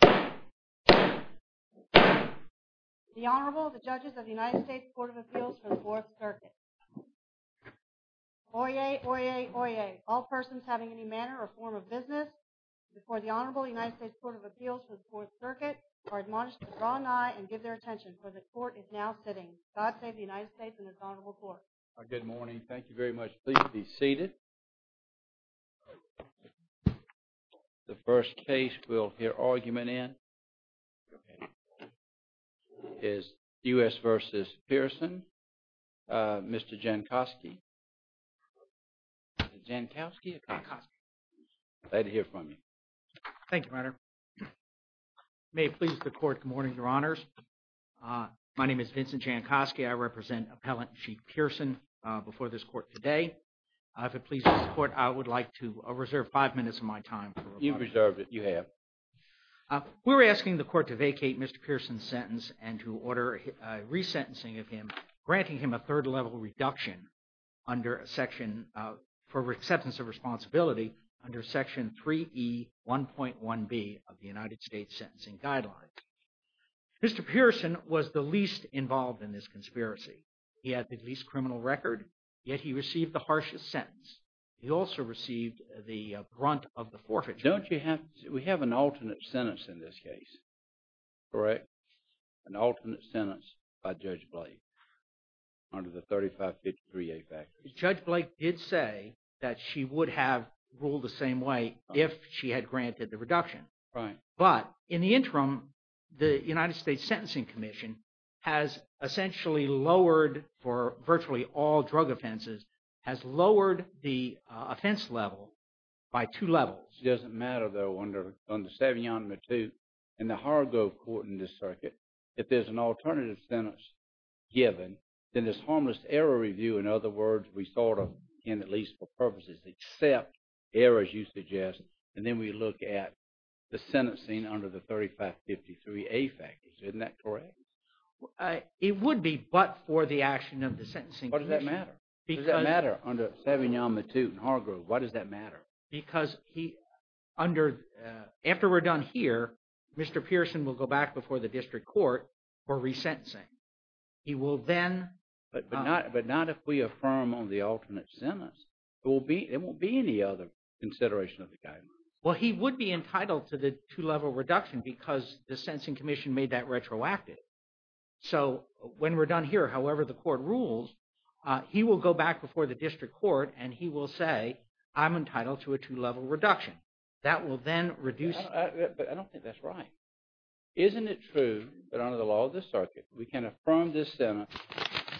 The Honorable, the Judges of the United States Court of Appeals for the Fourth Circuit. Oyez! Oyez! Oyez! All persons having any manner or form of business before the Honorable United States Court of Appeals for the Fourth Circuit are admonished to draw nigh and give their attention, for the Court is now sitting. God save the United States and its Honorable Court. Good morning. Thank you very much. Please be seated. The first case we'll hear argument in is U.S. v. Pearson. Mr. Jankowski. Mr. Jankowski. Mr. Jankowski. Pleased to hear from you. Thank you, Your Honor. May it please the Court, good morning, Your Honors. My name is Vincent Jankowski. I represent Appellant Sheik Pearson before this Court today. If it pleases the Court, I would like to reserve five minutes of my time. You've reserved it. You have. We're asking the Court to vacate Mr. Pearson's sentence and to order resentencing of him, granting him a third-level reduction for acceptance of responsibility under Section 3E1.1b of the United States Sentencing Guidelines. Mr. Pearson was the least involved in this conspiracy. He had the least criminal record, yet he received the harshest sentence. He also received the brunt of the forfeiture. Don't you have – we have an alternate sentence in this case, correct? An alternate sentence by Judge Blake under the 3553A factor. Judge Blake did say that she would have ruled the same way if she had granted the reduction. Right. But in the interim, the United States Sentencing Commission has essentially lowered for virtually all drug offenses, has lowered the offense level by two levels. It doesn't matter, though, under Savignon-Mattoot and the Hargrove Court in this circuit, if there's an alternative sentence given, then there's harmless error review. In other words, we sort of, and at least for purposes, accept errors you suggest, and then we look at the sentencing under the 3553A factors. Isn't that correct? It would be but for the action of the Sentencing Commission. Why does that matter? Because – Why does that matter under Savignon-Mattoot and Hargrove? Why does that matter? Because he – under – after we're done here, Mr. Pearson will go back before the district court for resentencing. He will then – But not if we affirm on the alternate sentence. There won't be any other consideration of the guidance. Well, he would be entitled to the two-level reduction because the Sentencing Commission made that retroactive. So when we're done here, however the court rules, he will go back before the district court and he will say, I'm entitled to a two-level reduction. That will then reduce – But I don't think that's right. Isn't it true that under the law of this circuit, we can affirm this sentence,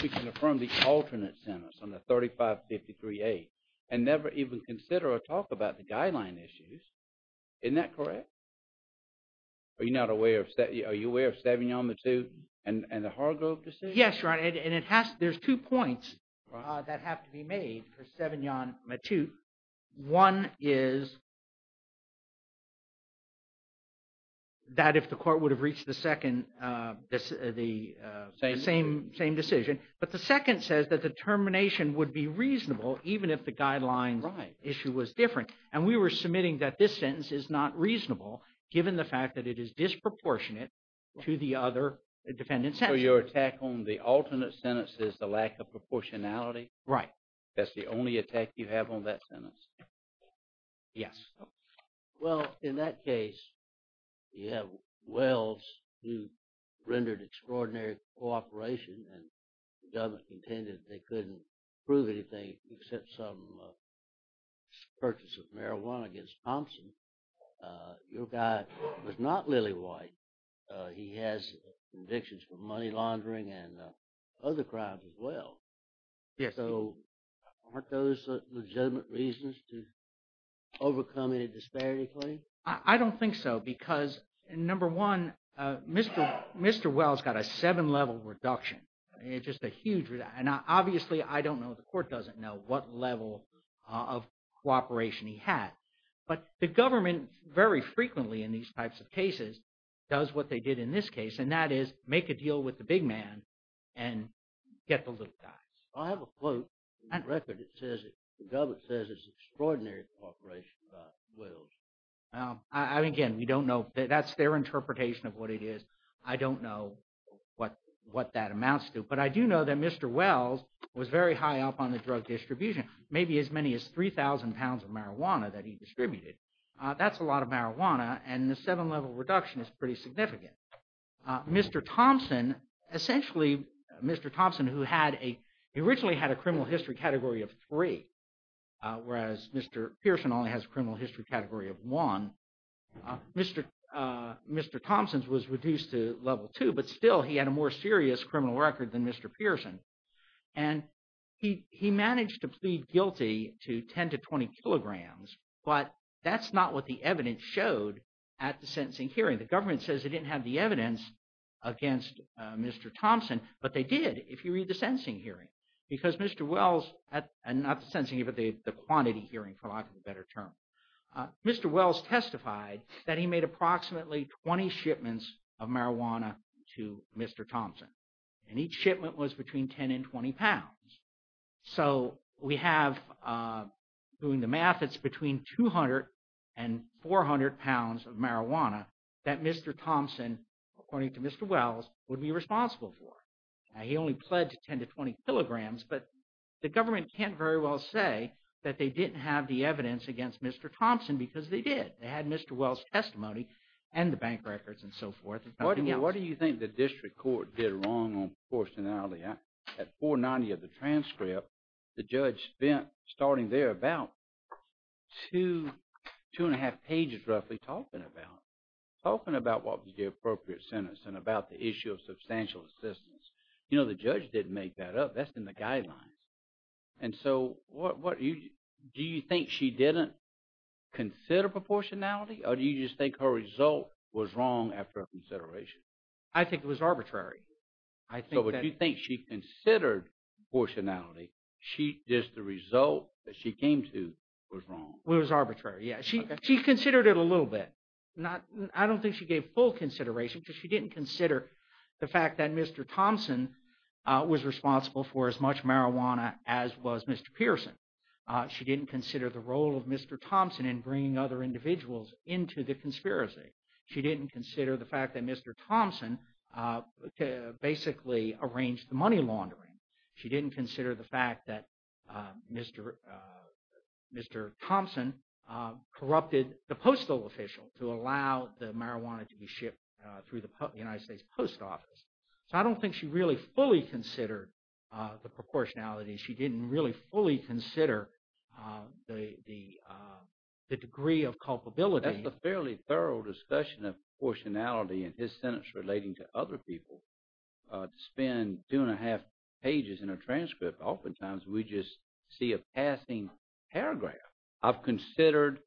we can affirm the alternate sentence on the 3553A and never even consider or talk about the guideline issues? Isn't that correct? Are you not aware of – are you aware of Savignon-Mattoot and the Hargrove decision? Yes, Ron, and it has – there's two points that have to be made for Savignon-Mattoot. One is that if the court would have reached the second – the same decision. But the second says that the termination would be reasonable even if the guidelines issue was different. And we were submitting that this sentence is not reasonable given the fact that it is disproportionate to the other defendant's sentence. So your attack on the alternate sentence is the lack of proportionality? Right. That's the only attack you have on that sentence? Yes. Well, in that case, you have Wells who rendered extraordinary cooperation and the government contended they couldn't prove anything except some purchase of marijuana against Thompson. Your guy was not Lily White. He has convictions for money laundering and other crimes as well. Yes. So aren't those legitimate reasons to overcome any disparity claim? I don't think so because, number one, Mr. Wells got a seven-level reduction. It's just a huge – and obviously, I don't know, the court doesn't know what level of cooperation he had. But the government very frequently in these types of cases does what they did in this case, and that is make a deal with the big man and get the little guys. I have a quote in the record that says – the government says it's extraordinary cooperation by Wells. Again, we don't know – that's their interpretation of what it is. I don't know what that amounts to. But I do know that Mr. Wells was very high up on the drug distribution, maybe as many as 3,000 pounds of marijuana that he distributed. That's a lot of marijuana, and the seven-level reduction is pretty significant. Mr. Thompson – essentially, Mr. Thompson, who had a – he originally had a criminal history category of three, whereas Mr. Pearson only has a criminal history category of one. Mr. Thompson's was reduced to level two, but still, he had a more serious criminal record than Mr. Pearson. And he managed to plead guilty to 10 to 20 kilograms, but that's not what the evidence showed at the sentencing hearing. The government says it didn't have the evidence against Mr. Thompson, but they did if you read the sentencing hearing. Because Mr. Wells – not the sentencing hearing, but the quantity hearing, for lack of a better term. Mr. Wells testified that he made approximately 20 shipments of marijuana to Mr. Thompson, and each shipment was between 10 and 20 pounds. So we have – doing the math, it's between 200 and 400 pounds of marijuana that Mr. Thompson, according to Mr. Wells, would be responsible for. He only pledged 10 to 20 kilograms, but the government can't very well say that they didn't have the evidence against Mr. Thompson because they did. They had Mr. Wells' testimony and the bank records and so forth. What do you think the district court did wrong on proportionality? At 490 of the transcript, the judge spent, starting there, about two, two and a half pages roughly talking about it. Talking about what was the appropriate sentence and about the issue of substantial assistance. You know, the judge didn't make that up. That's in the guidelines. And so what – do you think she didn't consider proportionality, or do you just think her result was wrong after consideration? I think it was arbitrary. I think that – So would you think she considered proportionality? She – just the result that she came to was wrong? It was arbitrary, yes. She considered it a little bit. I don't think she gave full consideration because she didn't consider the fact that Mr. Thompson was responsible for as much marijuana as was Mr. Pearson. She didn't consider the role of Mr. Thompson in bringing other individuals into the conspiracy. She didn't consider the fact that Mr. Thompson basically arranged the money laundering. She didn't consider the fact that Mr. Thompson corrupted the postal official to allow the marijuana to be shipped through the United States Post Office. So I don't think she really fully considered the proportionality. She didn't really fully consider the degree of culpability. But that's a fairly thorough discussion of proportionality in his sentence relating to other people. To spend two and a half pages in a transcript, oftentimes we just see a passing paragraph. I've considered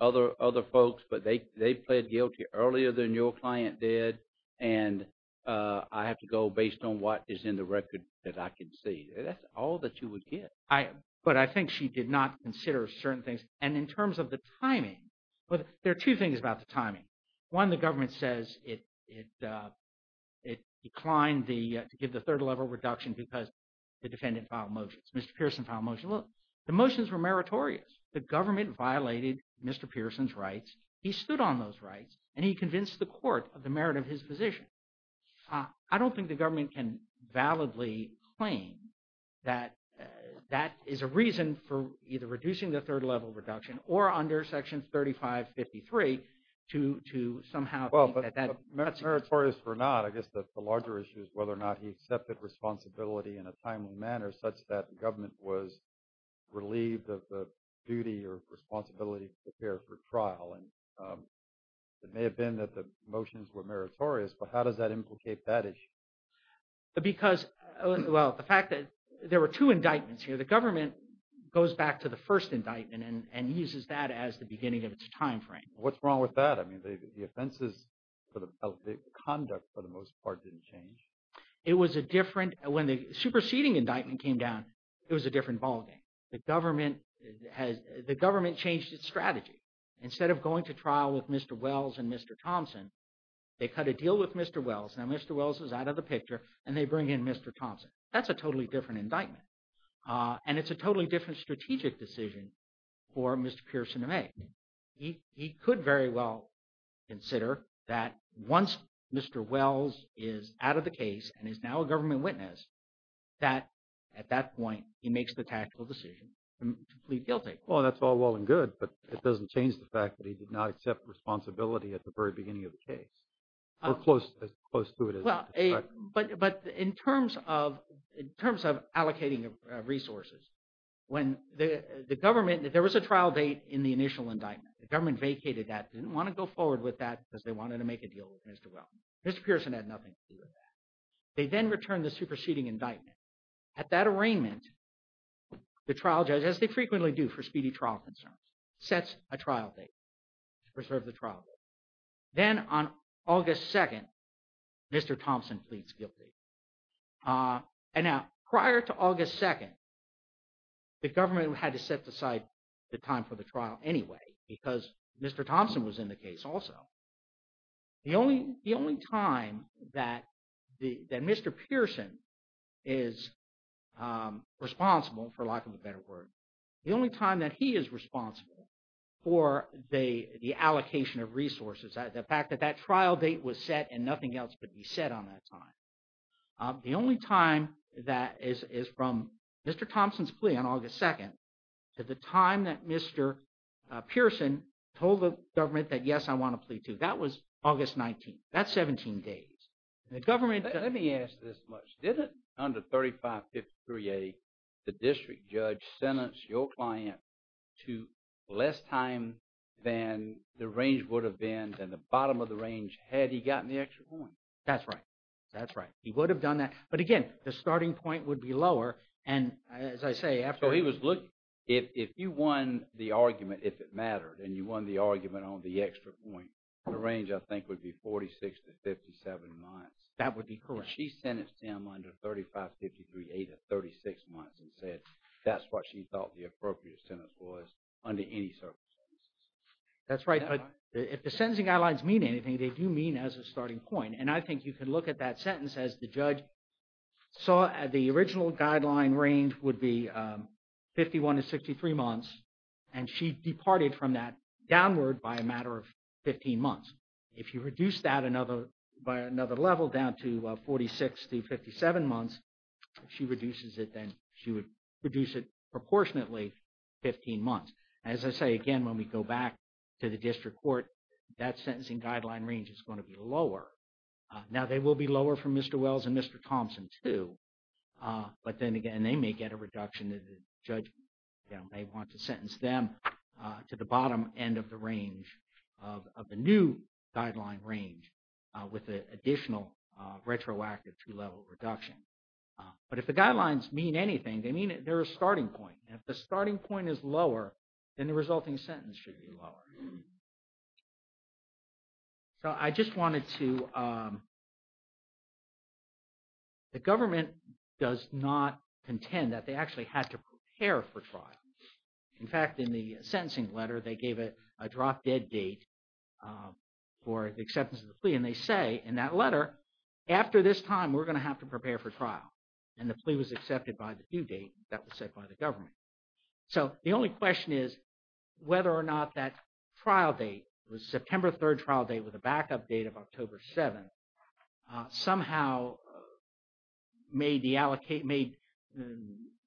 other folks, but they pled guilty earlier than your client did, and I have to go based on what is in the record that I can see. That's all that you would get. But I think she did not consider certain things. And in terms of the timing, there are two things about the timing. One, the government says it declined to give the third-level reduction because the defendant filed motions. Mr. Pearson filed a motion. Look, the motions were meritorious. The government violated Mr. Pearson's rights. He stood on those rights, and he convinced the court of the merit of his position. I don't think the government can validly claim that that is a reason for either reducing the third-level reduction or under Section 3553 to somehow – Well, but meritorious or not, I guess the larger issue is whether or not he accepted responsibility in a timely manner such that the government was relieved of the duty or responsibility to prepare for trial. And it may have been that the motions were meritorious, but how does that implicate that issue? Because – well, the fact that there were two indictments here. The government goes back to the first indictment and uses that as the beginning of its timeframe. What's wrong with that? I mean the offenses – the conduct for the most part didn't change. It was a different – when the superseding indictment came down, it was a different ballgame. The government changed its strategy. Instead of going to trial with Mr. Wells and Mr. Thompson, they cut a deal with Mr. Wells. Now, Mr. Wells is out of the picture, and they bring in Mr. Thompson. That's a totally different indictment, and it's a totally different strategic decision for Mr. Pearson to make. He could very well consider that once Mr. Wells is out of the case and is now a government witness, that at that point he makes the tactical decision to plead guilty. Well, that's all well and good, but it doesn't change the fact that he did not accept responsibility at the very beginning of the case or as close to it as – But in terms of allocating resources, when the government – there was a trial date in the initial indictment. The government vacated that, didn't want to go forward with that because they wanted to make a deal with Mr. Wells. Mr. Pearson had nothing to do with that. They then returned the superseding indictment. At that arraignment, the trial judge, as they frequently do for speedy trial concerns, sets a trial date to preserve the trial date. Then on August 2nd, Mr. Thompson pleads guilty. And now prior to August 2nd, the government had to set aside the time for the trial anyway because Mr. Thompson was in the case also. The only time that Mr. Pearson is responsible, for lack of a better word, the only time that he is responsible for the allocation of resources, the fact that that trial date was set and nothing else would be set on that time. The only time that is from Mr. Thompson's plea on August 2nd to the time that Mr. Pearson told the government that, yes, I want to plead to, that was August 19th. That's 17 days. The government – Let me ask this much. Didn't under 3553A, the district judge sentence your client to less time than the range would have been and the bottom of the range had he gotten the extra point? That's right. That's right. He would have done that. But again, the starting point would be lower. And as I say, after – So he was looking – if you won the argument, if it mattered, and you won the argument on the extra point, the range I think would be 46 to 57 months. That would be correct. She sentenced him under 3553A to 36 months and said that's what she thought the appropriate sentence was under any circumstances. That's right. But if the sentencing guidelines mean anything, they do mean as a starting point. And I think you can look at that sentence as the judge saw the original guideline range would be 51 to 63 months, and she departed from that downward by a matter of 15 months. If you reduce that another – by another level down to 46 to 57 months, she reduces it then – she would reduce it proportionately 15 months. As I say again, when we go back to the district court, that sentencing guideline range is going to be lower. Now, they will be lower for Mr. Wells and Mr. Thompson too. But then again, they may get a reduction that the judge may want to sentence them to the bottom end of the range of the new guideline range with the additional retroactive two-level reduction. But if the guidelines mean anything, they mean they're a starting point. And if the starting point is lower, then the resulting sentence should be lower. So I just wanted to – the government does not contend that they actually had to prepare for trial. In fact, in the sentencing letter, they gave a drop-dead date for the acceptance of the plea, and they say in that letter, after this time, we're going to have to prepare for trial. And the plea was accepted by the due date that was set by the government. So the only question is whether or not that trial date, the September 3rd trial date with a backup date of October 7th, somehow made the –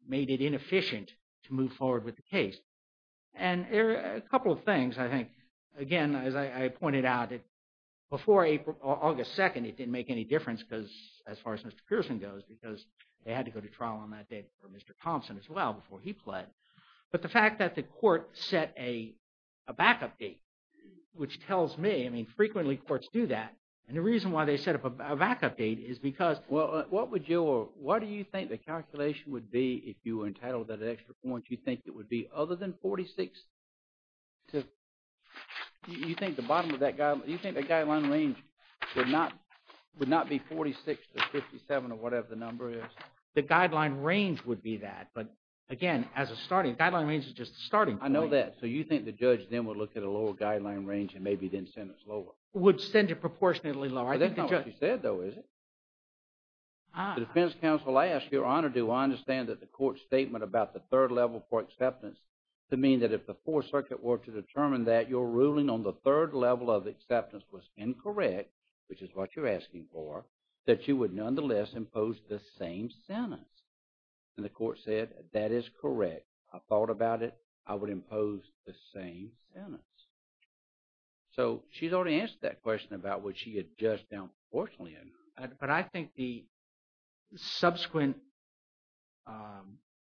made it inefficient to move forward with the case. And a couple of things, I think. Again, as I pointed out, before August 2nd, it didn't make any difference because – as far as Mr. Pearson goes, because they had to go to trial on that date for Mr. Thompson as well before he pled. But the fact that the court set a backup date, which tells me – I mean frequently courts do that. And the reason why they set up a backup date is because – Well, what would your – what do you think the calculation would be if you were entitled to that extra point? Do you think it would be other than 46 to – do you think the bottom of that – do you think the guideline range would not be 46 to 57 or whatever the number is? The guideline range would be that. But again, as a starting – guideline range is just starting point. I know that. So you think the judge then would look at a lower guideline range and maybe then send us lower? Would send it proportionately lower. I think the judge – But that's not what she said, though, is it? The defense counsel, I ask your honor, do I understand that the court's statement about the third level for acceptance to mean that if the Fourth Circuit were to determine that your ruling on the third level of acceptance was incorrect, which is what you're asking for, that you would nonetheless impose the same sentence? And the court said, that is correct. I thought about it. I would impose the same sentence. So she's already answered that question about what she had judged down proportionately. But I think the subsequent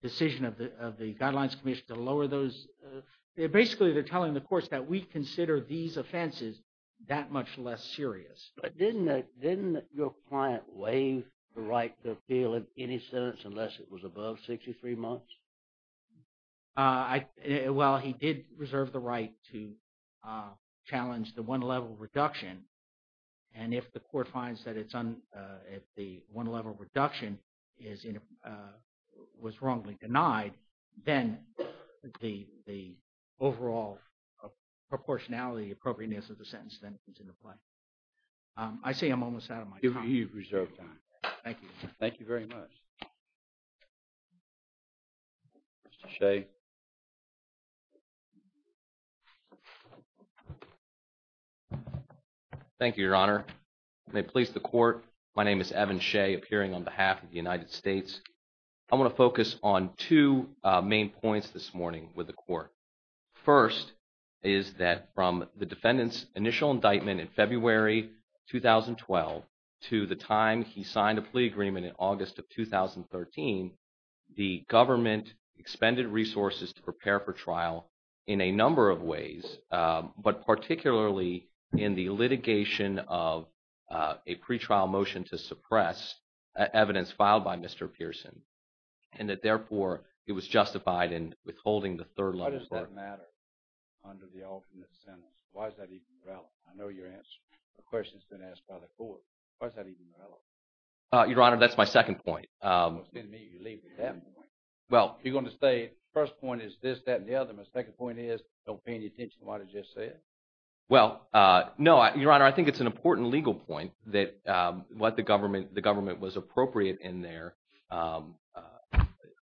decision of the Guidelines Commission to lower those – basically, they're telling the courts that we consider these offenses that much less serious. But didn't your client waive the right to appeal in any sentence unless it was above 63 months? Well, he did reserve the right to challenge the one-level reduction. And if the court finds that it's – if the one-level reduction is – was wrongly denied, then the overall proportionality appropriateness of the sentence then comes into play. I say I'm almost out of my time. You've reserved time. Thank you. Thank you very much. Mr. Shea. Thank you, Your Honor. May it please the court, my name is Evan Shea, appearing on behalf of the United States. I want to focus on two main points this morning with the court. First is that from the defendant's initial indictment in February 2012 to the time he signed a plea agreement in August of 2013, the government expended resources to prepare for trial in a number of ways, but particularly in the litigation of a pretrial motion to suppress evidence filed by Mr. Pearson. And that, therefore, it was justified in withholding the third level – Why does that matter under the alternate sentence? Why is that even relevant? I know your answer – the question has been asked by the court. Why is that even relevant? Your Honor, that's my second point. Well, it's good to meet you. You leave with that point. Well, you're going to say first point is this, that, and the other. My second point is don't pay any attention to what I just said. Well, no, Your Honor, I think it's an important legal point that what the government – the government was appropriate in their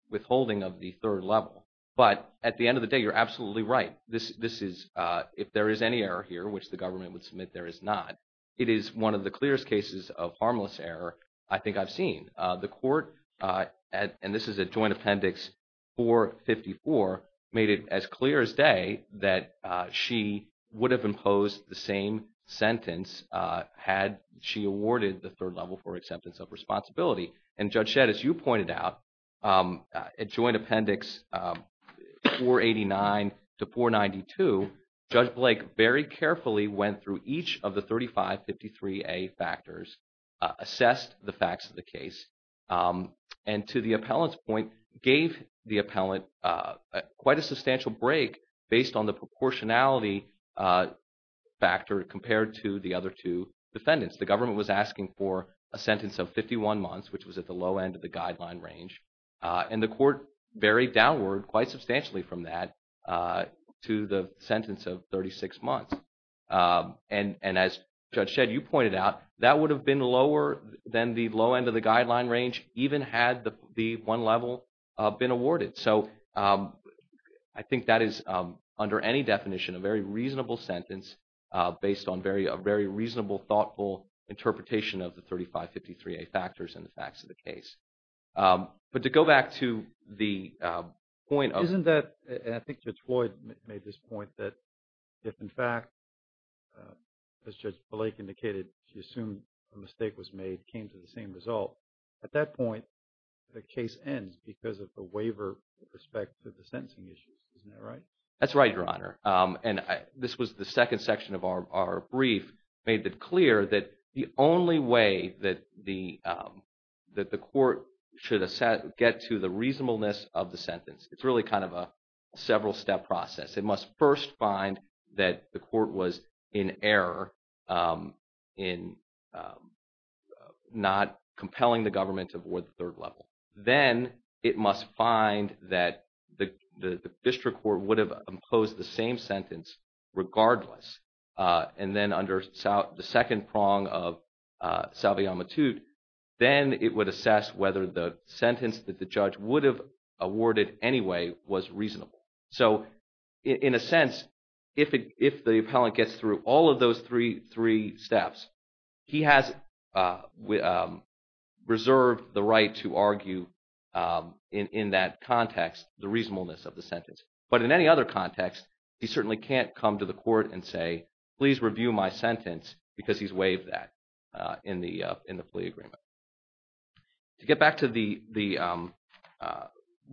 withholding of the third level. But at the end of the day, you're absolutely right. This is – if there is any error here, which the government would submit there is not, it is one of the clearest cases of harmless error I think I've seen. The court, and this is at Joint Appendix 454, made it as clear as day that she would have imposed the same sentence had she awarded the third level for acceptance of responsibility. And Judge Shedd, as you pointed out, at Joint Appendix 489 to 492, Judge Blake very carefully went through each of the 3553A factors, assessed the facts of the case, and to the appellant's point, gave the appellant quite a substantial break based on the proportionality factor compared to the other two defendants. The government was asking for a sentence of 51 months, which was at the low end of the guideline range. And the court varied downward quite substantially from that to the sentence of 36 months. And as Judge Shedd, you pointed out, that would have been lower than the low end of the guideline range even had the one level been awarded. So I think that is, under any definition, a very reasonable sentence based on a very reasonable, thoughtful interpretation of the 3553A factors and the facts of the case. But to go back to the point of – Isn't that – and I think Judge Floyd made this point that if, in fact, as Judge Blake indicated, she assumed a mistake was made, came to the same result, at that point, the case ends because of the waiver with respect to the sentencing issues. Isn't that right? That's right, Your Honor. And this was the second section of our brief made it clear that the only way that the court should get to the reasonableness of the sentence, it's really kind of a several-step process. It must first find that the court was in error in not compelling the government to award the third level. Then it must find that the district court would have imposed the same sentence regardless. And then under the second prong of salvia matut, then it would assess whether the sentence that the judge would have awarded anyway was reasonable. So, in a sense, if the appellant gets through all of those three steps, he has reserved the right to argue in that context the reasonableness of the sentence. But in any other context, he certainly can't come to the court and say, please review my sentence because he's waived that in the plea agreement. To get back to the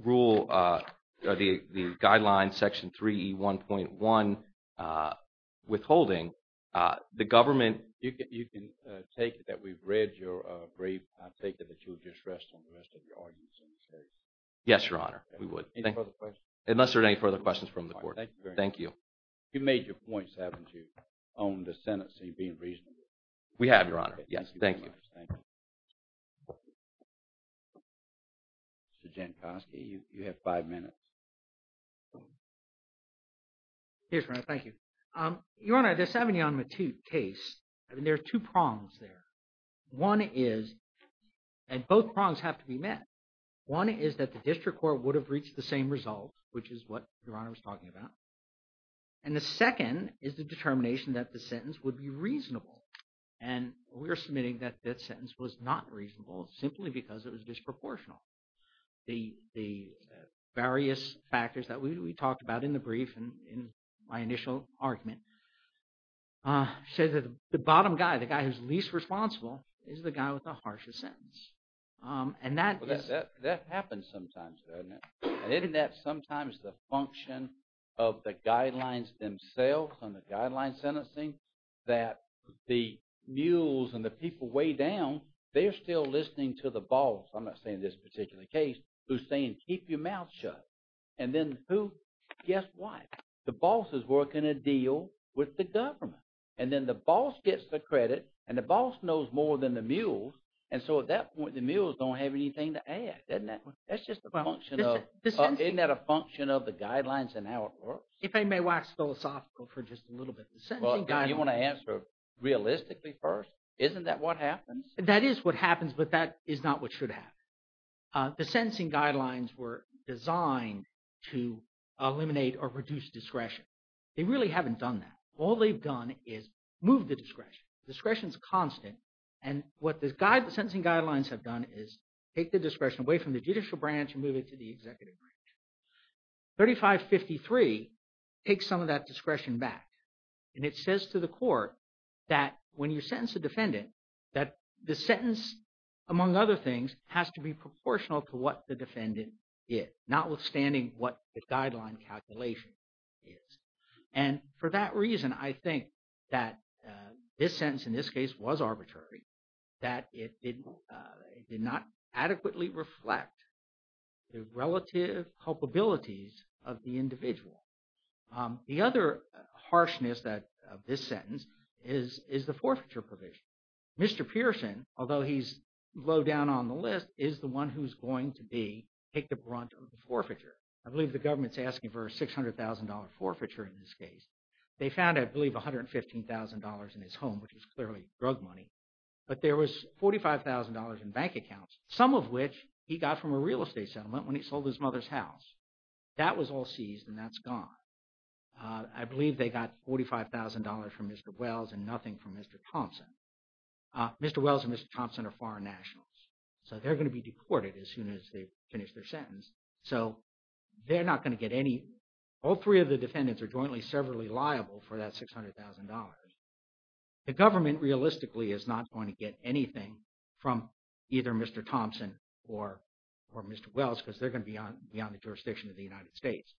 rule – the guideline section 3E1.1 withholding, the government – You can take it that we've read your brief. I'll take it that you'll just rest on the rest of your arguments in this case. Yes, Your Honor. We would. Any further questions? Unless there are any further questions from the court. Thank you very much. Thank you. You made your points, haven't you, on the sentencing being reasonable? We have, Your Honor. Yes. Thank you. Thank you very much. Thank you. Mr. Jankowski, you have five minutes. Yes, Your Honor. Thank you. Your Honor, this salvia matut case, I mean there are two prongs there. One is – and both prongs have to be met. One is that the district court would have reached the same result, which is what Your Honor was talking about. And the second is the determination that the sentence would be reasonable. And we're submitting that that sentence was not reasonable simply because it was disproportional. The various factors that we talked about in the brief and in my initial argument say that the bottom guy, the guy who's least responsible, is the guy with the harshest sentence. And that is – That happens sometimes, doesn't it? And isn't that sometimes the function of the guidelines themselves and the guideline sentencing? That the mules and the people way down, they're still listening to the boss. I'm not saying this particular case, who's saying keep your mouth shut. And then who – guess what? The boss is working a deal with the government. And then the boss gets the credit, and the boss knows more than the mules. And so at that point, the mules don't have anything to add, doesn't it? That's just a function of – isn't that a function of the guidelines and how it works? If I may wax philosophical for just a little bit. Well, you want to answer realistically first. Isn't that what happens? That is what happens, but that is not what should happen. The sentencing guidelines were designed to eliminate or reduce discretion. They really haven't done that. All they've done is move the discretion. The discretion is constant, and what the sentencing guidelines have done is take the discretion away from the judicial branch and move it to the executive branch. 3553 takes some of that discretion back. And it says to the court that when you sentence a defendant, that the sentence, among other things, has to be proportional to what the defendant did, notwithstanding what the guideline calculation is. And for that reason, I think that this sentence in this case was arbitrary, that it did not adequately reflect the relative culpabilities of the individual. The other harshness of this sentence is the forfeiture provision. Mr. Pearson, although he's low down on the list, is the one who's going to be – take the brunt of the forfeiture. I believe the government's asking for a $600,000 forfeiture in this case. They found, I believe, $115,000 in his home, which is clearly drug money. But there was $45,000 in bank accounts, some of which he got from a real estate settlement when he sold his mother's house. That was all seized, and that's gone. I believe they got $45,000 from Mr. Wells and nothing from Mr. Thompson. Mr. Wells and Mr. Thompson are foreign nationals, so they're going to be deported as soon as they finish their sentence. So they're not going to get any – all three of the defendants are jointly severally liable for that $600,000. The government realistically is not going to get anything from either Mr. Thompson or Mr. Wells because they're going to be on the jurisdiction of the United States.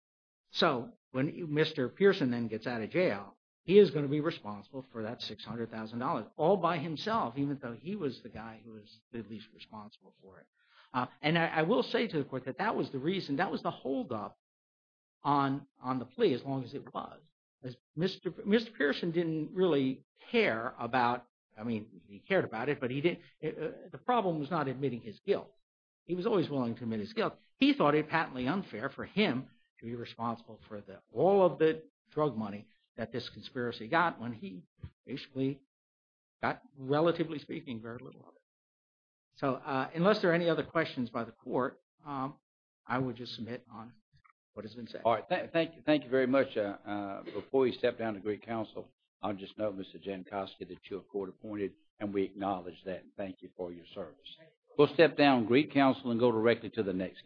So when Mr. Pearson then gets out of jail, he is going to be responsible for that $600,000 all by himself, even though he was the guy who was the least responsible for it. And I will say to the court that that was the reason – that was the holdup on the plea as long as it was. Mr. Pearson didn't really care about – I mean, he cared about it, but he didn't – the problem was not admitting his guilt. He was always willing to admit his guilt. He thought it patently unfair for him to be responsible for all of the drug money that this conspiracy got when he basically got, relatively speaking, very little of it. So unless there are any other questions by the court, I would just submit on what has been said. All right. Thank you very much. Before we step down to Greek counsel, I'll just note, Mr. Jankowski, that you're court-appointed, and we acknowledge that and thank you for your service. We'll step down to Greek counsel and go directly to the next case.